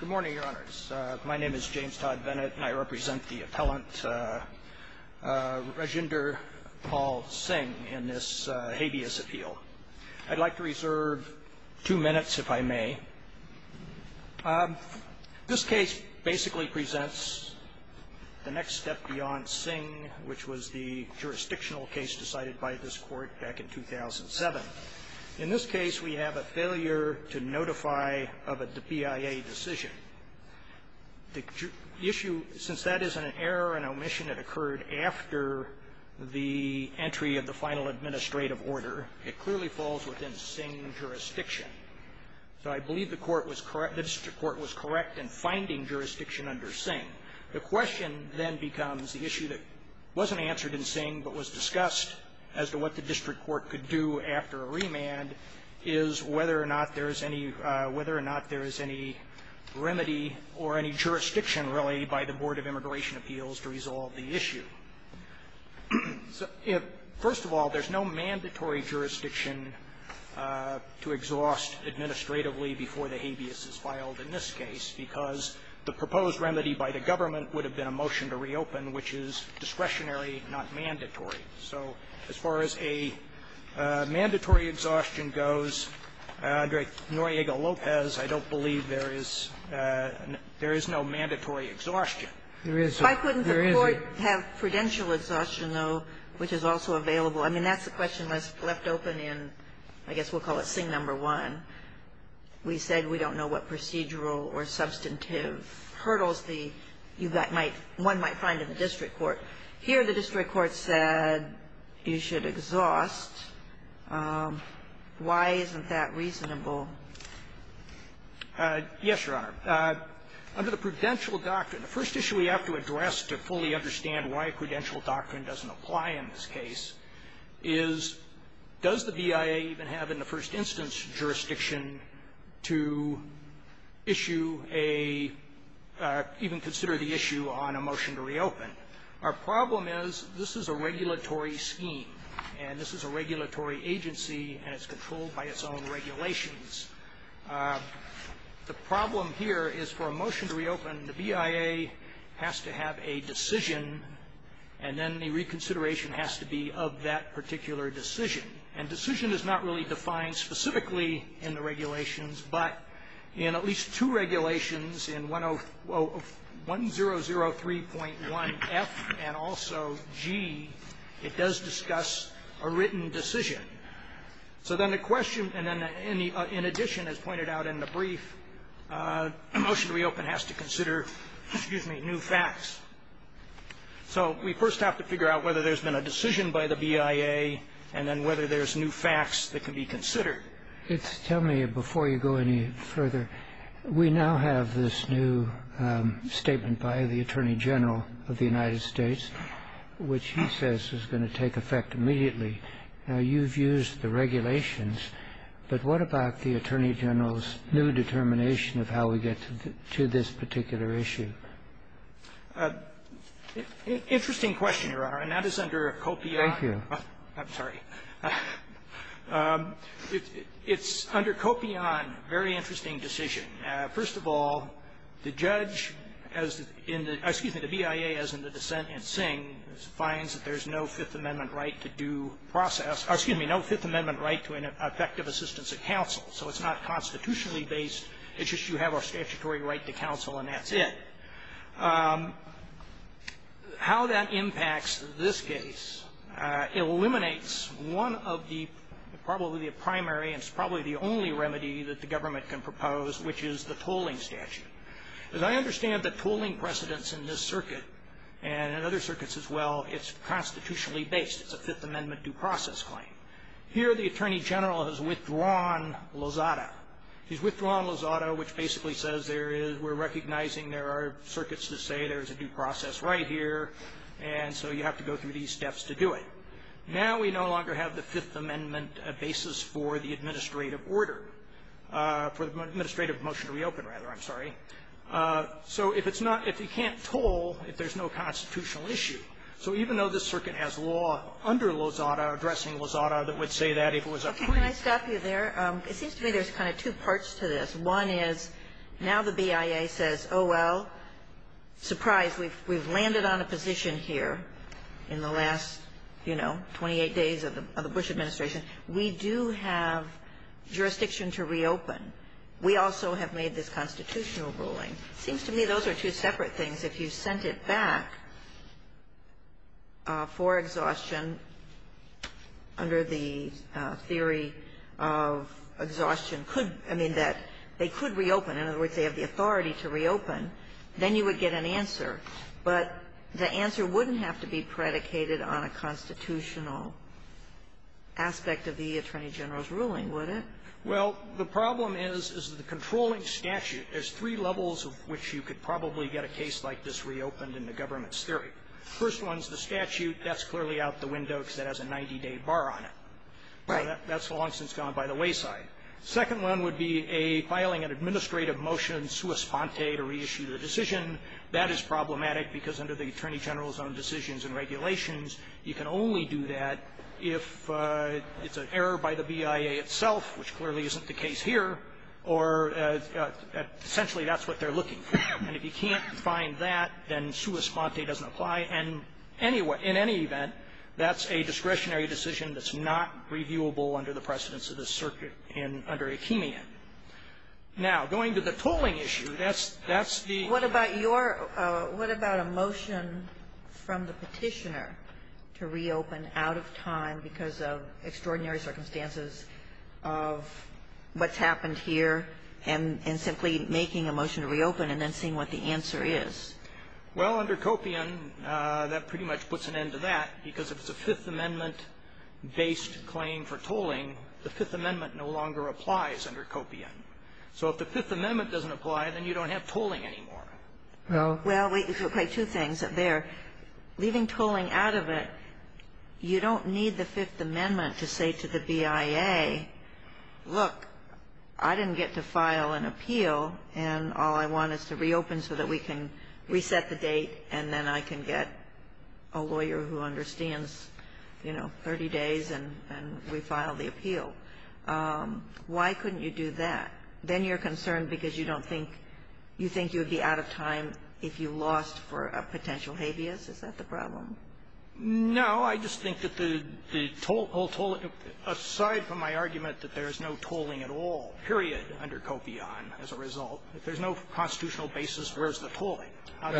Good morning, Your Honors. My name is James Todd Bennett, and I represent the appellant Rajinder Paul Singh in this habeas appeal. I'd like to reserve two minutes, if I may. This case basically presents the next step beyond Singh, which was the jurisdictional case decided by this court back in 2007. In this case, we have a failure to notify of a BIA decision. The issue, since that is an error, an omission that occurred after the entry of the final administrative order, it clearly falls within Singh jurisdiction. So I believe the court was correct the district court was correct in finding jurisdiction under Singh. The question then becomes, the issue that wasn't answered in Singh but was discussed as to what the district court could do after a remand, is whether or not there is any remedy or any jurisdiction, really, by the Board of Immigration Appeals to resolve the issue. First of all, there's no mandatory jurisdiction to exhaust administratively before the habeas is filed in this case, because the proposed remedy by the government would have been a motion to reopen, which is discretionary, not mandatory. So as far as a mandatory exhaustion goes, under Noriega-Lopez, I don't believe there is no mandatory exhaustion. There isn't. There isn't. Why couldn't the court have prudential exhaustion, though, which is also available? I mean, that's the question left open in, I guess we'll call it Singh No. 1. We said we don't know what procedural or substantive hurdles the U.S. might one might find in the district court. Here the district court said you should exhaust. Why isn't that reasonable? Yes, Your Honor. Under the prudential doctrine, the first issue we have to address to fully understand why a prudential doctrine doesn't apply in this case is, does the BIA even have in the first instance jurisdiction to issue a or even consider the issue on a motion to reopen? Our problem is this is a regulatory scheme, and this is a regulatory agency, and it's controlled by its own regulations. The problem here is for a motion to reopen, the BIA has to have a decision, and then the reconsideration has to be of that particular decision. And decision is not really defined specifically in the regulations, but in at least two regulations, in 1003.1F and also G, it does discuss a written decision. So then the question, and then in addition, as pointed out in the brief, a motion to reopen has to consider, excuse me, new facts. So we first have to figure out whether there's been a decision by the BIA and then whether there's new facts that can be considered. Tell me, before you go any further, we now have this new statement by the Attorney General of the United States, which he says is going to take effect immediately. Now, you've used the regulations, but what about the Attorney General's new determination of how we get to this particular issue? Interesting question, Your Honor, and that is under COPIAN. Thank you. I'm sorry. It's under COPIAN, a very interesting decision. First of all, the judge, excuse me, the BIA, as in the dissent in Singh, finds that there's no Fifth Amendment right to due process or, excuse me, no Fifth Amendment right to an effective assistance of counsel. So it's not constitutionally based. It's just you have a statutory right to counsel, and that's it. How that impacts this case eliminates one of the probably the primary and probably the only remedy that the government can propose, which is the tolling statute. As I understand the tolling precedents in this circuit and in other circuits as well, it's constitutionally based. It's a Fifth Amendment due process claim. Here the Attorney General has withdrawn Lozada. He's withdrawn Lozada, which basically says we're recognizing there are circuits to say there's a due process right here, and so you have to go through these steps to do it. Now we no longer have the Fifth Amendment basis for the administrative order. For the administrative motion to reopen, rather. I'm sorry. So if it's not, if you can't toll, if there's no constitutional issue. So even though this circuit has law under Lozada addressing Lozada that would say that if it was appointed. Ginsburg. Can I stop you there? It seems to me there's kind of two parts to this. One is now the BIA says, oh, well, surprise, we've landed on a position here in the last, you know, 28 days of the Bush administration. We do have jurisdiction to reopen. We also have made this constitutional ruling. It seems to me those are two separate things. If you sent it back for exhaustion under the theory of exhaustion could, I mean, that they could reopen. In other words, they have the authority to reopen. Then you would get an answer. But the answer wouldn't have to be predicated on a constitutional aspect of the Attorney General's ruling, would it? Well, the problem is, is the controlling statute. There's three levels of which you could probably get a case like this reopened in the government's theory. First one's the statute. That's clearly out the window because it has a 90-day bar on it. Right. That's long since gone by the wayside. Second one would be a filing an administrative motion sua sponte to reissue the decision. That is problematic because under the Attorney General's own decisions and regulations, you can only do that if it's an error by the BIA itself, which clearly isn't the case here, or essentially that's what they're looking for. And if you can't find that, then sua sponte doesn't apply. And anyway, in any event, that's a discretionary decision that's not reviewable under the precedence of the circuit in under Akeemian. Now, going to the tolling issue, that's the ---- Sotomayor, what about a motion from the Petitioner to reopen out of time because of extraordinary circumstances of what's happened here and simply making a motion to reopen and then seeing what the answer is? Well, under Copian, that pretty much puts an end to that because if it's a Fifth Amendment-based claim for tolling, the Fifth Amendment no longer applies under Copian. So if the Fifth Amendment doesn't apply, then you don't have tolling anymore. Well, wait. Two things there. Leaving tolling out of it, you don't need the Fifth Amendment to say to the BIA, look, I didn't get to file an appeal, and all I want is to reopen so that we can reset the date and then I can get a lawyer who understands, you know, 30 days and we file the appeal. Why couldn't you do that? Then you're concerned because you don't think you think you'd be out of time if you lost for a potential habeas. Is that the problem? No. I just think that the toll ---- aside from my argument that there's no tolling at all, period, under Copian as a result, if there's no constitutional basis, where's the tolling? You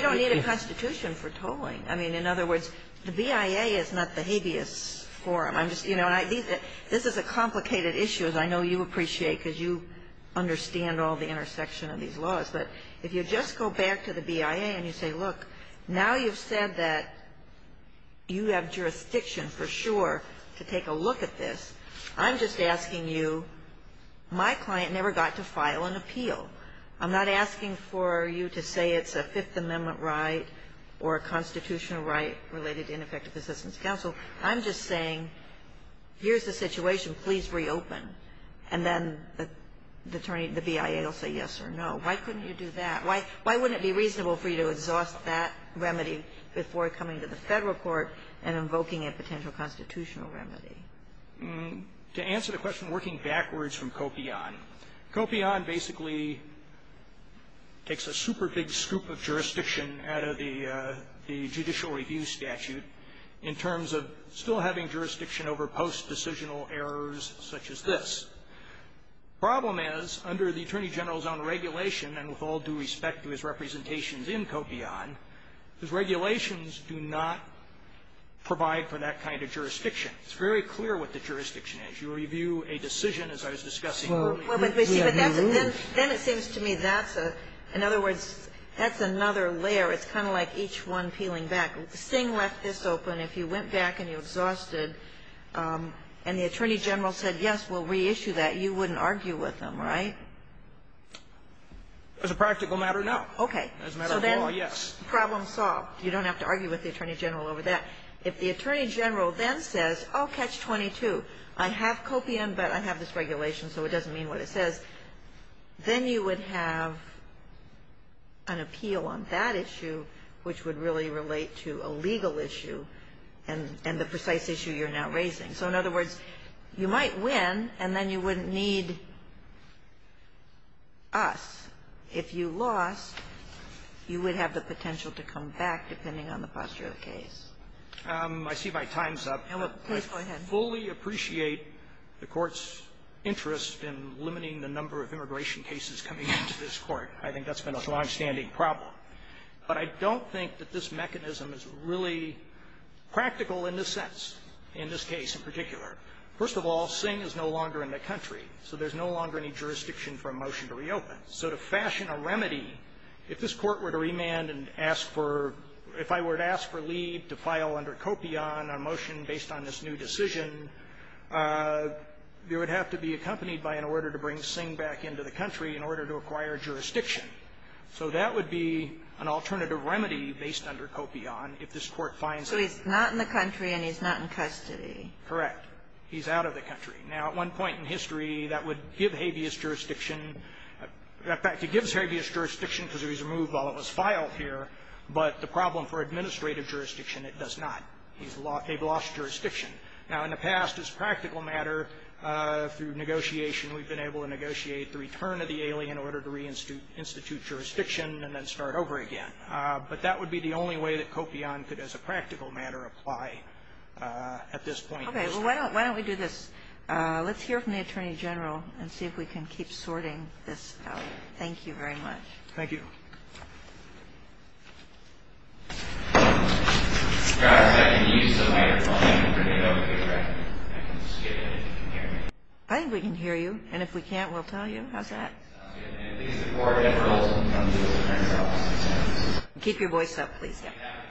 don't need a constitution for tolling. I mean, in other words, the BIA is not the habeas forum. I'm just ---- you know, this is a complicated issue, as I know you appreciate because you understand all the intersection of these laws. But if you just go back to the BIA and you say, look, now you've said that you have jurisdiction for sure to take a look at this, I'm just asking you, my client never got to file an appeal. I'm not asking for you to say it's a Fifth Amendment right or a constitutional right related to ineffective assistance counsel. I'm just saying, here's the situation. Please reopen. And then the attorney ---- the BIA will say yes or no. Why couldn't you do that? Why wouldn't it be reasonable for you to exhaust that remedy before coming to the Federal court and invoking a potential constitutional remedy? To answer the question working backwards from Copian, Copian basically takes a super big scoop of jurisdiction out of the judicial review statute in terms of still having jurisdiction over post-decisional errors such as this. The problem is, under the Attorney General's own regulation, and with all due respect to his representations in Copian, his regulations do not provide for that kind of jurisdiction. It's very clear what the jurisdiction is. You review a decision, as I was discussing earlier. But then it seems to me that's a ---- in other words, that's another layer. It's kind of like each one peeling back. Singh left this open. If you went back and you exhausted and the Attorney General said, yes, we'll reissue that, you wouldn't argue with him, right? As a practical matter, no. Okay. As a matter of law, yes. Problem solved. You don't have to argue with the Attorney General over that. If the Attorney General then says, oh, catch-22, I have Copian, but I have this regulation, so it doesn't mean what it says, then you would have an appeal on that issue, which would really relate to a legal issue and the precise issue you're now raising. So in other words, you might win, and then you wouldn't need us. If you lost, you would have the potential to come back, depending on the posture of the case. I see my time's up. Please go ahead. I fully appreciate the Court's interest in limiting the number of immigration cases coming into this Court. I think that's been a longstanding problem. But I don't think that this mechanism is really practical in this sense, in this case in particular. First of all, Singh is no longer in the country, so there's no longer any jurisdiction for a motion to reopen. So to fashion a remedy, if this Court were to remand and ask for – if I were to ask for leave to file under Copian a motion based on this new decision, it would have to be accompanied by an order to bring Singh back into the country in order to acquire jurisdiction. So that would be an alternative remedy based under Copian if this Court finds a remedy. So he's not in the country and he's not in custody. Correct. He's out of the country. Now, at one point in history, that would give habeas jurisdiction. In fact, it gives habeas jurisdiction because it was removed while it was filed here. But the problem for administrative jurisdiction, it does not. They've lost jurisdiction. Now, in the past, as a practical matter, through negotiation, we've been able to negotiate the return of the alien in order to reinstitute jurisdiction and then start over again. But that would be the only way that Copian could, as a practical matter, apply at this point in history. Okay. Well, why don't we do this? Let's hear from the Attorney General and see if we can keep sorting this out. Thank you very much. Thank you. I think we can hear you. And if we can't, we'll tell you. How's that? Keep your voice up, please. Thank you.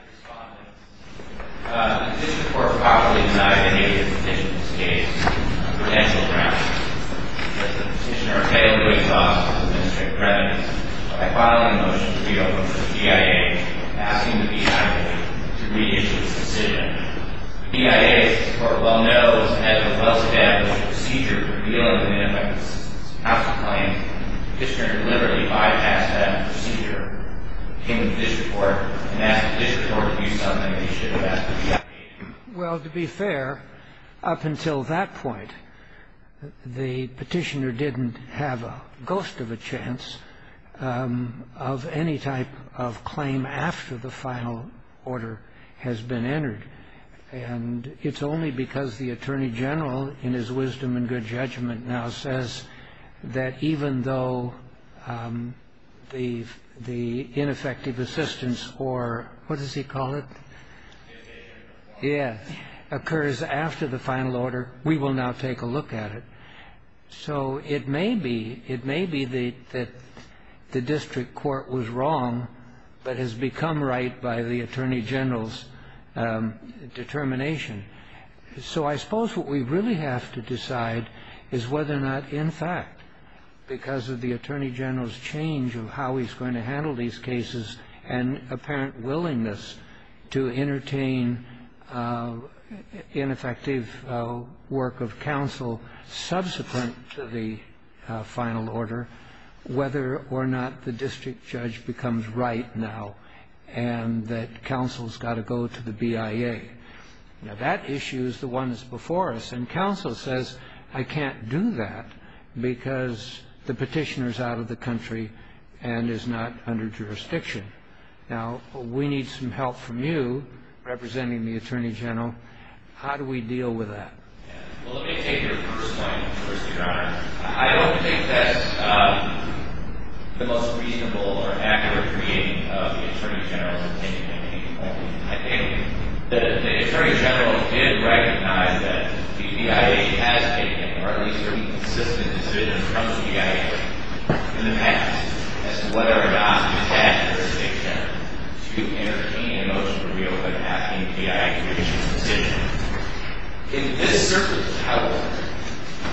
Well, to be fair, up until that point, the Petitioner didn't have a ghost of a chance of any type of claim after the final order has been entered. And it's only because the Attorney General, in his wisdom and good judgment, now says that even though the ineffective assistance or what does he call it, occurs after the final order, we will now take a look at it. So it may be that the district court was wrong but has become right by the Attorney General's determination. So I suppose what we really have to decide is whether or not, in fact, because of the Attorney General's change of how he's going to handle these cases and apparent willingness to entertain ineffective work of counsel subsequent to the final order, whether or not the district judge becomes right now and that counsel's got to go to the BIA. Now, that issue is the one that's before us. And counsel says, I can't do that because the Petitioner's out of the country and is not under jurisdiction. Now, we need some help from you, representing the Attorney General. How do we deal with that? Well, let me take your first point, Your Honor. I don't think that the most reasonable or accurate reading of the Attorney General's intention at any point. I think that the Attorney General did recognize that the BIA has taken, or at least consistent decisions from the BIA in the past as to whether or not he has jurisdiction to entertain a motion to reopen that BIA decision. In this circuit of how it works,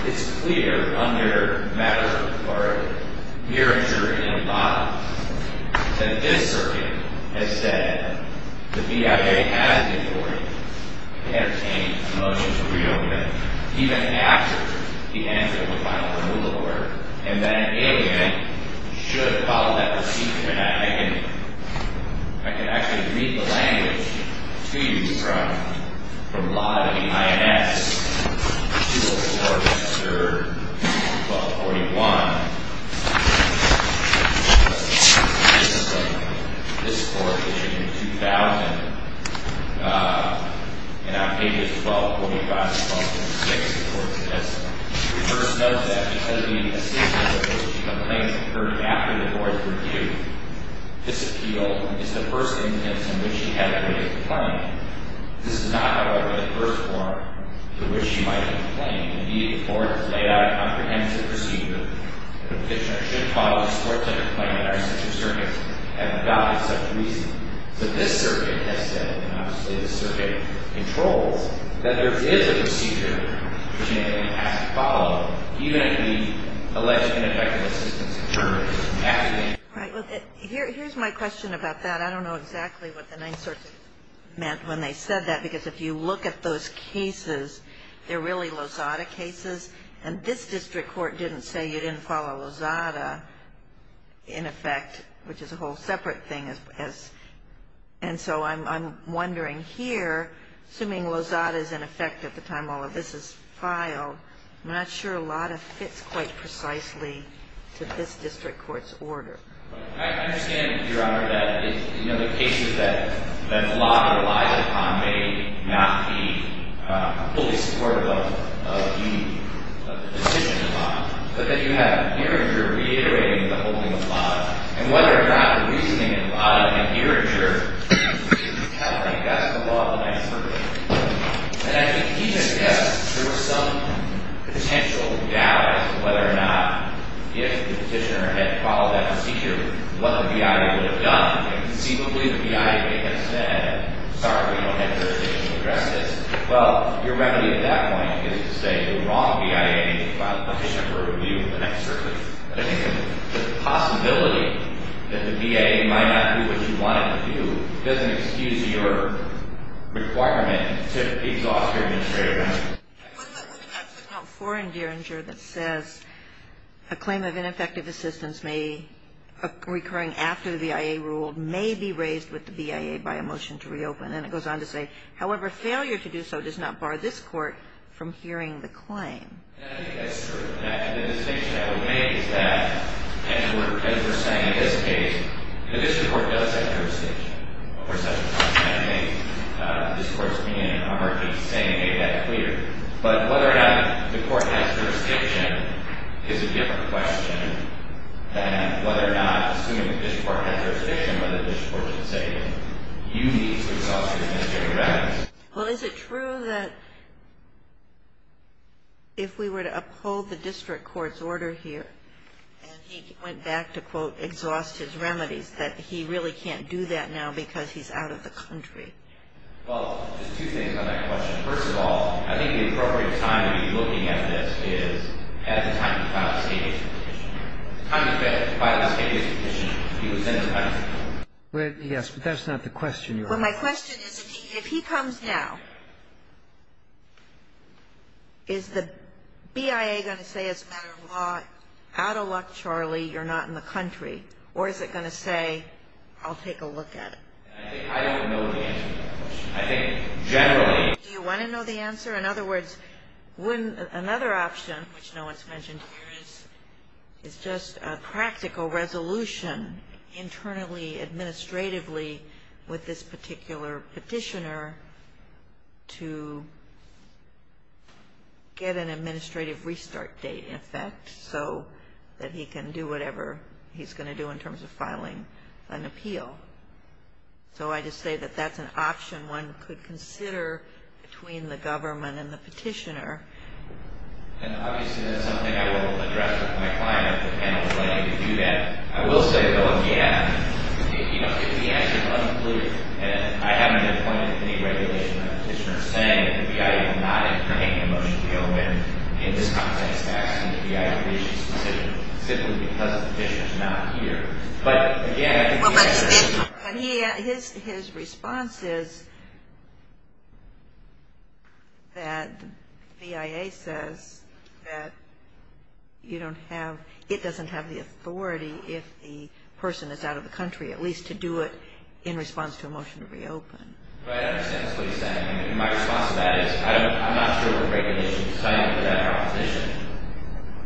it's clear under matter or a here and here and above that this circuit has said the BIA has the authority to entertain a motion to reopen it, even after the end of the final rule of order, and that an alienate should follow that procedure. I can actually read the language to you from law to the INS. 204, Mr. 1241, this court issued in 2000. And on pages 1245 and 1246, the court says, The person notes that, because of the insistence of which the complaint occurred after the board's review, this appeal is the first instance in which he had a written complaint. This is not, however, the first form to which he might have complained. Indeed, the board has laid out a comprehensive procedure that a petitioner should follow and sports such a complaint that our circuits haven't gotten for such a reason. But this circuit has said, and obviously this circuit controls, that there is a procedure that a petitioner has to follow, even after the alleged ineffective assistance has occurred. Here's my question about that. I don't know exactly what the Ninth Circuit meant when they said that, because if you look at those cases, they're really Lozada cases, and this district court didn't say you didn't follow Lozada, in effect, which is a whole separate thing. And so I'm wondering here, assuming Lozada is in effect at the time all of this is filed, I'm not sure Lodda fits quite precisely to this district court's order. I understand, Your Honor, that the cases that Lodda relies upon may not be fully supportive of the decision in Lodda, but that you have Gearinger reiterating the holding of Lodda. And whether or not the reasoning in Lodda and Gearinger, I think that's the law of the Ninth Circuit. And I think he just guessed there was some potential doubt as to whether or not if the petitioner had followed that procedure, what the BIA would have done. And conceivably the BIA may have said, sorry, we don't have jurisdiction to address this. Well, your remedy at that point is to say the wrong BIA and file a petition for review in the Ninth Circuit. I think the possibility that the BIA might not do what you want it to do doesn't excuse your requirement to exhaust your administrative energy. Wasn't it actually not foreign, dear, that says a claim of ineffective assistance may, recurring after the BIA ruled, may be raised with the BIA by a motion to reopen? And it goes on to say, however, failure to do so does not bar this court from hearing the claim. And I think that's sort of a connection to the distinction that we made, is that as we're saying in this case, the district court does have jurisdiction. Of course, that's not going to make the discourse of me and Omar keep saying, hey, that's clear. But whether or not the court has jurisdiction is a different question than whether or not assuming the district court has jurisdiction, whether the district court should say, okay, you need to exhaust your administrative remedies. Well, is it true that if we were to uphold the district court's order here and he went back to, quote, exhaust his remedies, that he really can't do that now because he's out of the country? Well, just two things on that question. First of all, I think the appropriate time to be looking at this is at the time of the final escapism petition. At the time of the final escapism petition, he was in his country. Yes, but that's not the question you're asking. Well, my question is, if he comes now, is the BIA going to say it's a matter of law, out of luck, Charlie, you're not in the country, or is it going to say, I'll take a look at it? I don't know the answer to that question. I think generally. Do you want to know the answer? In other words, another option, which no one's mentioned here, is just a practical resolution internally, administratively, with this particular petitioner to get an administrative restart date in effect so that he can do whatever he's going to do in terms of filing an appeal. So I just say that that's an option one could consider between the government and the petitioner. And obviously that's something I will address with my client if the panel is willing to do that. I will say, though, again, the answer is unclear, and I haven't appointed any regulation on a petitioner saying that the BIA will not entertain a motion to go ahead in this context to act on the BIA's decision simply because the petitioner's not here. But again, I think the answer is unclear. His response is that BIA says that you don't have – it doesn't have the authority if the person is out of the country at least to do it in response to a motion to reopen. I understand what you're saying. My response to that is I'm not sure the regulations tell you that proposition,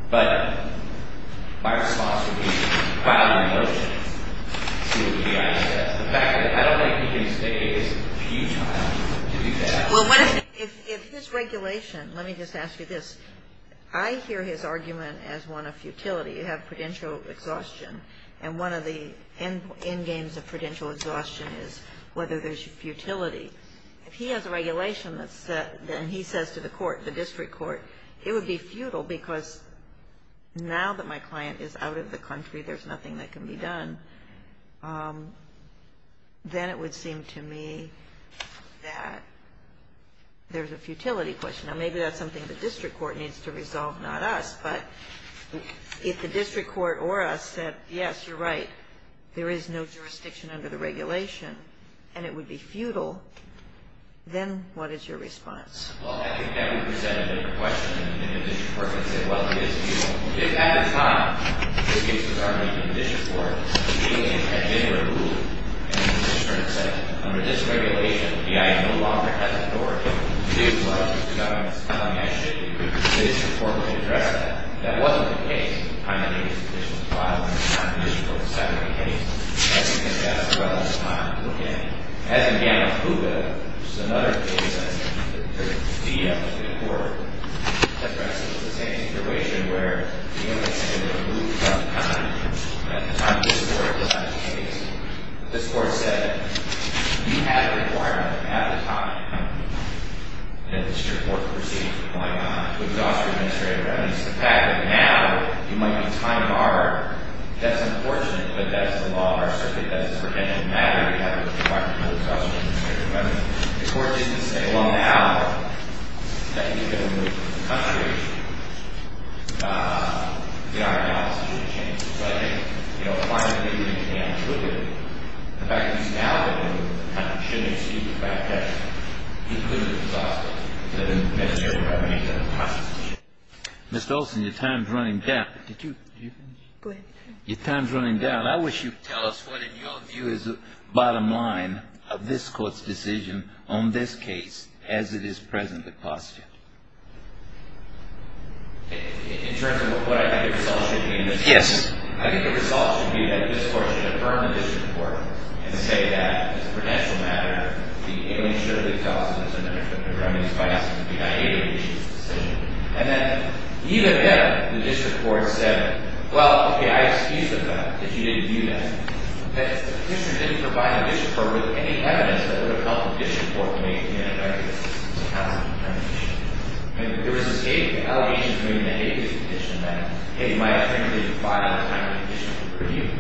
but my response would be file your motion. See what the BIA says. The fact that I don't think you can say it is futile to do that. If his regulation – let me just ask you this. I hear his argument as one of futility. You have prudential exhaustion, and one of the end games of prudential exhaustion is whether there's futility. If he has a regulation that's – and he says to the court, the district court, it would be futile because now that my client is out of the country, there's nothing that can be done. Then it would seem to me that there's a futility question. Now, maybe that's something the district court needs to resolve, not us. But if the district court or us said, yes, you're right, there is no jurisdiction under the regulation and it would be futile, then what is your response? Well, I think that would present a different question than if the district court could say, well, it is futile. If at the time this case was already in the district court, the hearing had been removed and the district court had said, under this regulation, the BIA no longer has authority to do what the district government is telling it to do, the district court would have addressed that. That wasn't the case. The time that he was in the district court was five minutes. The district court decided it was the case. I think that that's the relevant time to look at it. As in the case of Cuba, which is another case, I think the BIA court addressed it in the same situation, where the BIA said it would remove some time at the time this court decided the case. But this court said, you have the requirement, you have the time. And the district court's proceedings were going on to exhaust the administrator. And it's the fact that now you might be time barred. That's unfortunate, but that's the law of our circuit. That's a credentialed matter. You have to talk to the district government. The court didn't say, well, now that you're going to move to the country, you know, our analysis is going to change. So I think, you know, finally, you can attribute it. The fact that he's now in the country shouldn't exceed the fact that he could have exhausted the administrator by many different times. Mr. Olson, your time is running down. Did you finish? Go ahead. Your time is running down. Well, I wish you'd tell us what, in your view, is the bottom line of this court's decision on this case as it is presently questioned. In terms of what I think the result should be in this case. Yes. I think the result should be that this court should affirm the district court and say that, as a credentialed matter, it only should have exhausted the administrator by many different times. And then, even then, the district court said, well, okay, I excuse the fact that you didn't do that, that the district didn't provide the district court with any evidence that would have helped the district court to make the ineffective counsel determination. I mean, there was this allegation between the agency and the district that, hey, my attorney didn't provide enough time for the district court to review.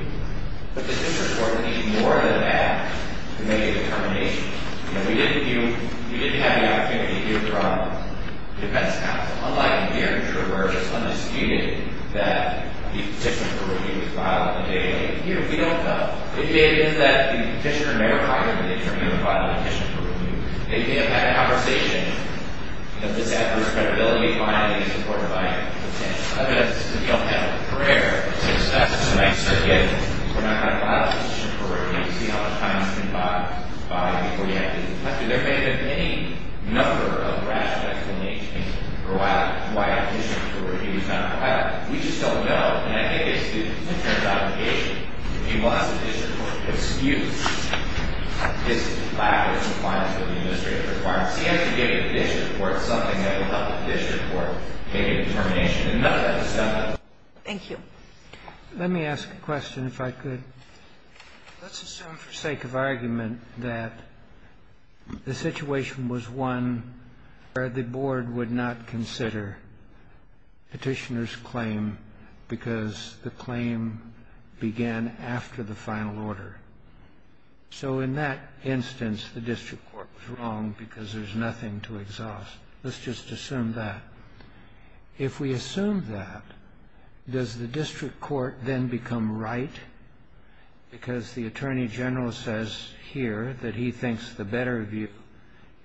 But the district court needed more than that to make a determination. You know, we didn't have the opportunity to hear from the defense counsel. Unlike here, where it's undisputed that the petition for review was filed on the day of the hearing, we don't know. What we do know is that the petitioner may or may not have been the attorney who filed the petition for review. They may have had a conversation. Does this add to her credibility? Fine. I think it's important to find evidence. If you don't have a prayer to discuss tonight's circuit, we're not going to file a petition for review to see how much time you can buy before you have to reflect. There may have been any number of rational explanations for why a petition for review is not required. We just don't know. And I think it's the attorney's obligation. He wants the district court to excuse his lack of compliance with the administrative requirements. He has to give the district court something that will help the district court make a determination. And nothing has to stop him. Thank you. Let me ask a question if I could. Let's assume for sake of argument that the situation was one where the board would not consider petitioner's claim because the claim began after the final order. So in that instance, the district court was wrong because there's nothing to exhaust. Let's just assume that. If we assume that, does the district court then become right because the attorney general says here that he thinks the better view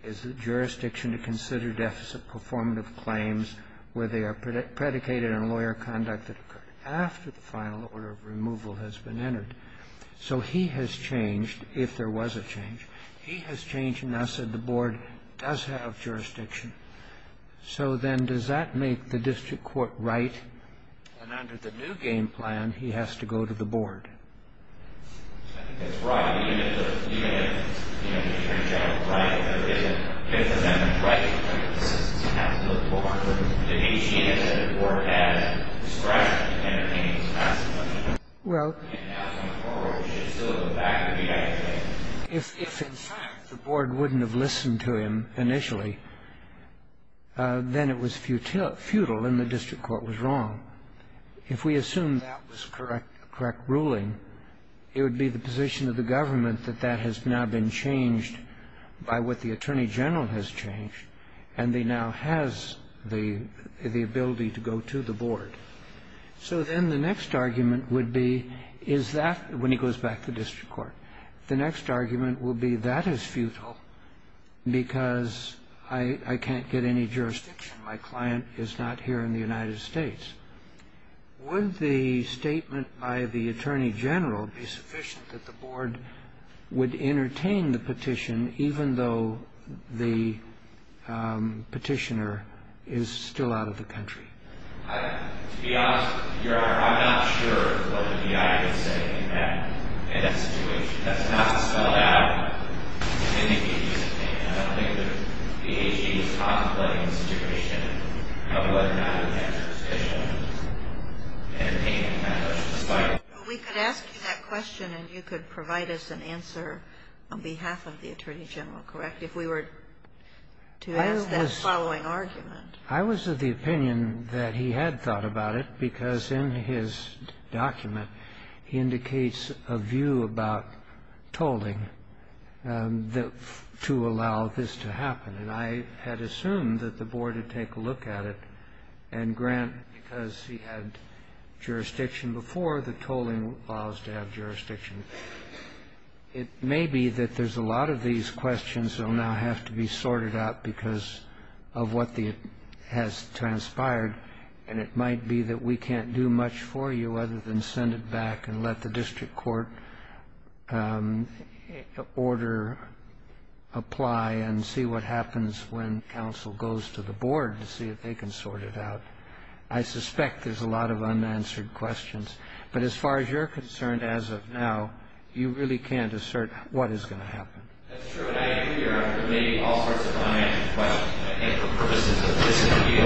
is the jurisdiction to consider deficit performative claims where they are predicated on lawyer conduct that occurred after the final order of removal has been entered. So he has changed, if there was a change. He has changed and now said the board does have jurisdiction. So then does that make the district court right? And under the new game plan, he has to go to the board. I think that's right. Even if the attorney general is right, there is a right to make a decision. He has to go to the board. If he changes it, the board has discretion to entertain his testimony. If in fact the board wouldn't have listened to him initially, then it was futile and the district court was wrong. If we assume that was correct ruling, it would be the position of the government that that has now been changed by what the attorney general has changed and he now has the ability to go to the board. So then the next argument would be is that, when he goes back to the district court, the next argument would be that is futile because I can't get any jurisdiction. My client is not here in the United States. Would the statement by the attorney general be sufficient that the board would entertain the petition even though the petitioner is still out of the country? To be honest, Your Honor, I'm not sure what the DI is saying in that situation. That's not spelled out in any piece of paper. I don't think that the AG is contemplating the situation of whether or not he has jurisdiction in entertaining that petition. We could ask you that question and you could provide us an answer on behalf of the attorney general, correct? If we were to ask that following argument. I was of the opinion that he had thought about it because in his document he indicates a view about tolling to allow this to happen. And I had assumed that the board would take a look at it and grant, because he had jurisdiction before, that tolling allows to have jurisdiction. It may be that there's a lot of these questions that will now have to be sorted out because of what has transpired. And it might be that we can't do much for you other than send it back and let the district court order apply and see what happens when counsel goes to the board to see if they can sort it out. I suspect there's a lot of unanswered questions. But as far as you're concerned as of now, you really can't assert what is going to happen. That's true. And I agree, Your Honor, there may be all sorts of unanswered questions. And I think for purposes of this appeal,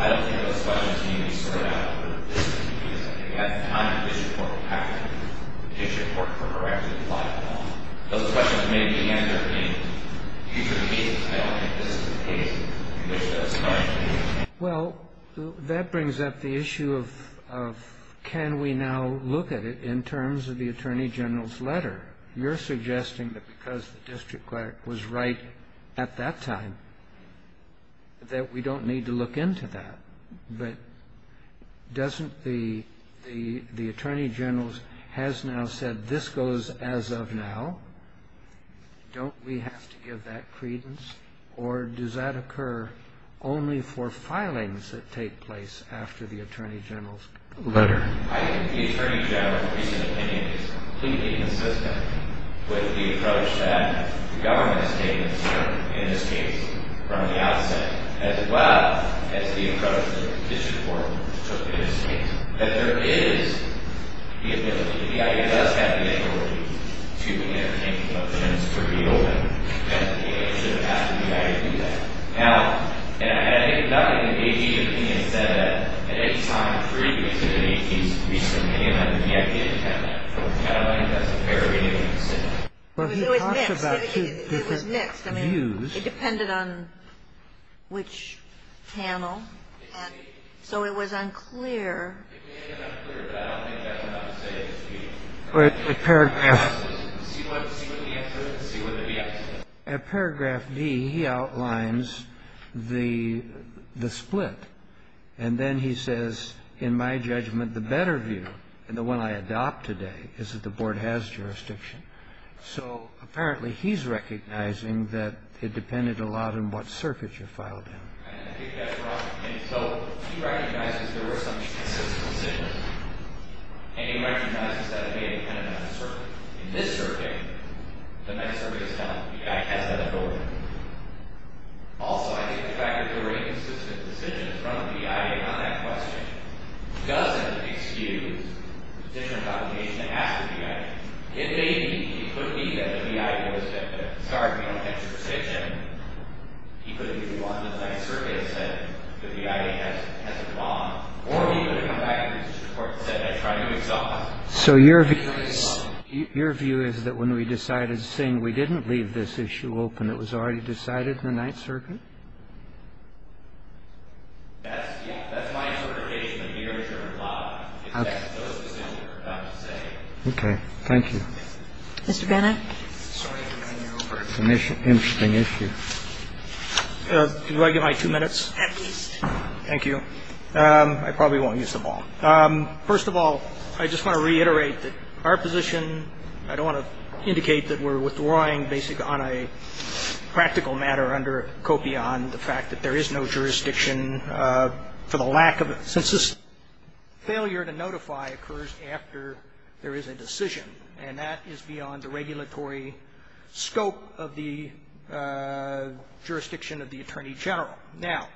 I don't think those questions need to be sorted out. But at this point in time, the district court will have to issue a court order to apply. Those questions may be answered in future meetings. I don't think this is the case. Well, that brings up the issue of can we now look at it in terms of the attorney general's letter. You're suggesting that because the district clerk was right at that time that we don't need to look into that. But doesn't the attorney general's has now said this goes as of now. Don't we have to give that credence? Or does that occur only for filings that take place after the attorney general's letter? The attorney general's recent opinion is completely consistent with the approach that the government has taken in this case from the outset as well as the approach that the district court took in this case. But there is the ability. The DA does have the authority to entertain questions for the open. And the DA should have asked the DA to do that. Now, and I think not only the DA, but the DA said that at any time previous to the DA's recent opinion, that the DA didn't have that approach. And I don't think that's a fair way to sit down. It was mixed. It was mixed. It was mixed. I mean, it depended on which panel. And so it was unclear. At paragraph D, he outlines the split. And then he says, in my judgment, the better view, the one I adopt today, is that the board has jurisdiction. So apparently he's recognizing that it depended a lot on what circuit you filed in. And I think that's wrong. And so he recognizes there were some consistent decisions. And he recognizes that it may have depended on the circuit. In this circuit, the next circuit is done. The DA has that authority. Also, I think the fact that there were inconsistent decisions from the DA on that question doesn't excuse the position of obligation to ask the DA. So your view is that when we decided to sing, we didn't leave this issue open. It was already decided in the Ninth Circuit? Okay. Okay. Thank you. Mr. Bennett. Sorry to run you over. It's an interesting issue. Do I get my two minutes? At least. Thank you. I probably won't use them all. First of all, I just want to reiterate that our position, I don't want to indicate that we're withdrawing basically on a practical matter under COPI on the fact that there is a decision, and that is beyond the regulatory scope of the jurisdiction of the Attorney General. Now,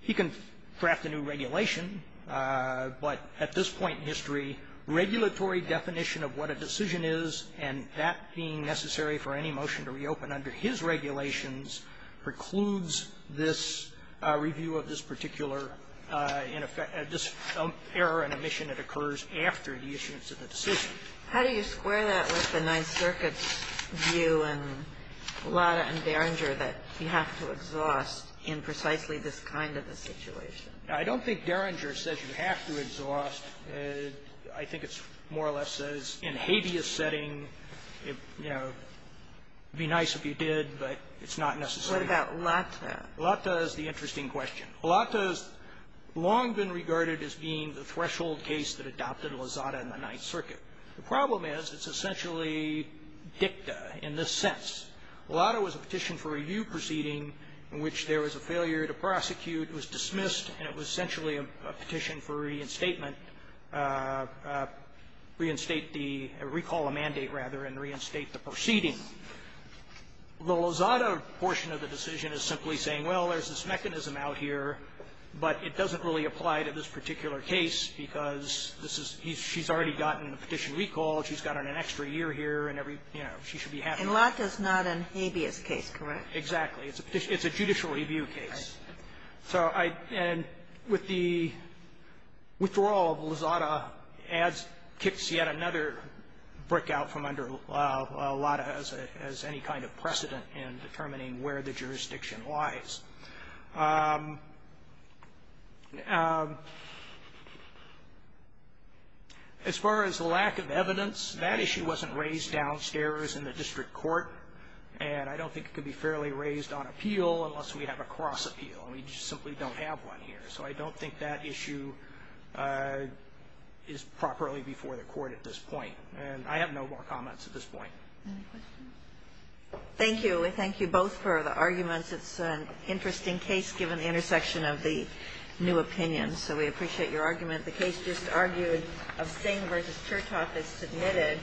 he can draft a new regulation, but at this point in history, regulatory definition of what a decision is and that being necessary for any motion to reopen under his regulations precludes this review of this particular error and omission that occurs after the issuance of the decision. How do you square that with the Ninth Circuit's view in Latta and Derringer that you have to exhaust in precisely this kind of a situation? I don't think Derringer says you have to exhaust. I think it more or less says in habeas setting, you know, be nice if you did, but it's not necessary. What about Latta? Latta is the interesting question. Latta has long been regarded as being the threshold case that adopted Lozada in the Ninth Circuit. The problem is it's essentially dicta in this sense. Latta was a petition for review proceeding in which there was a failure to prosecute. It was dismissed, and it was essentially a petition for reinstatement, reinstate the or recall a mandate, rather, and reinstate the proceeding. The Lozada portion of the decision is simply saying, well, there's this mechanism out here, but it doesn't really apply to this particular case because this is he's already gotten a petition recall. She's gotten an extra year here, and every, you know, she should be happy. And Latta's not a habeas case, correct? Exactly. It's a judicial review case. Right. And with the withdrawal, Lozada kicks yet another brick out from under Latta as any kind of precedent in determining where the jurisdiction lies. As far as the lack of evidence, that issue wasn't raised downstairs in the district court, and I don't think it could be fairly raised on appeal unless we have a cross appeal. And we just simply don't have one here. So I don't think that issue is properly before the court at this point. And I have no more comments at this point. Any questions? Thank you. We thank you both for the arguments. It's an interesting case given the intersection of the new opinions. So we appreciate your argument. The case just argued abstain versus church office submitted.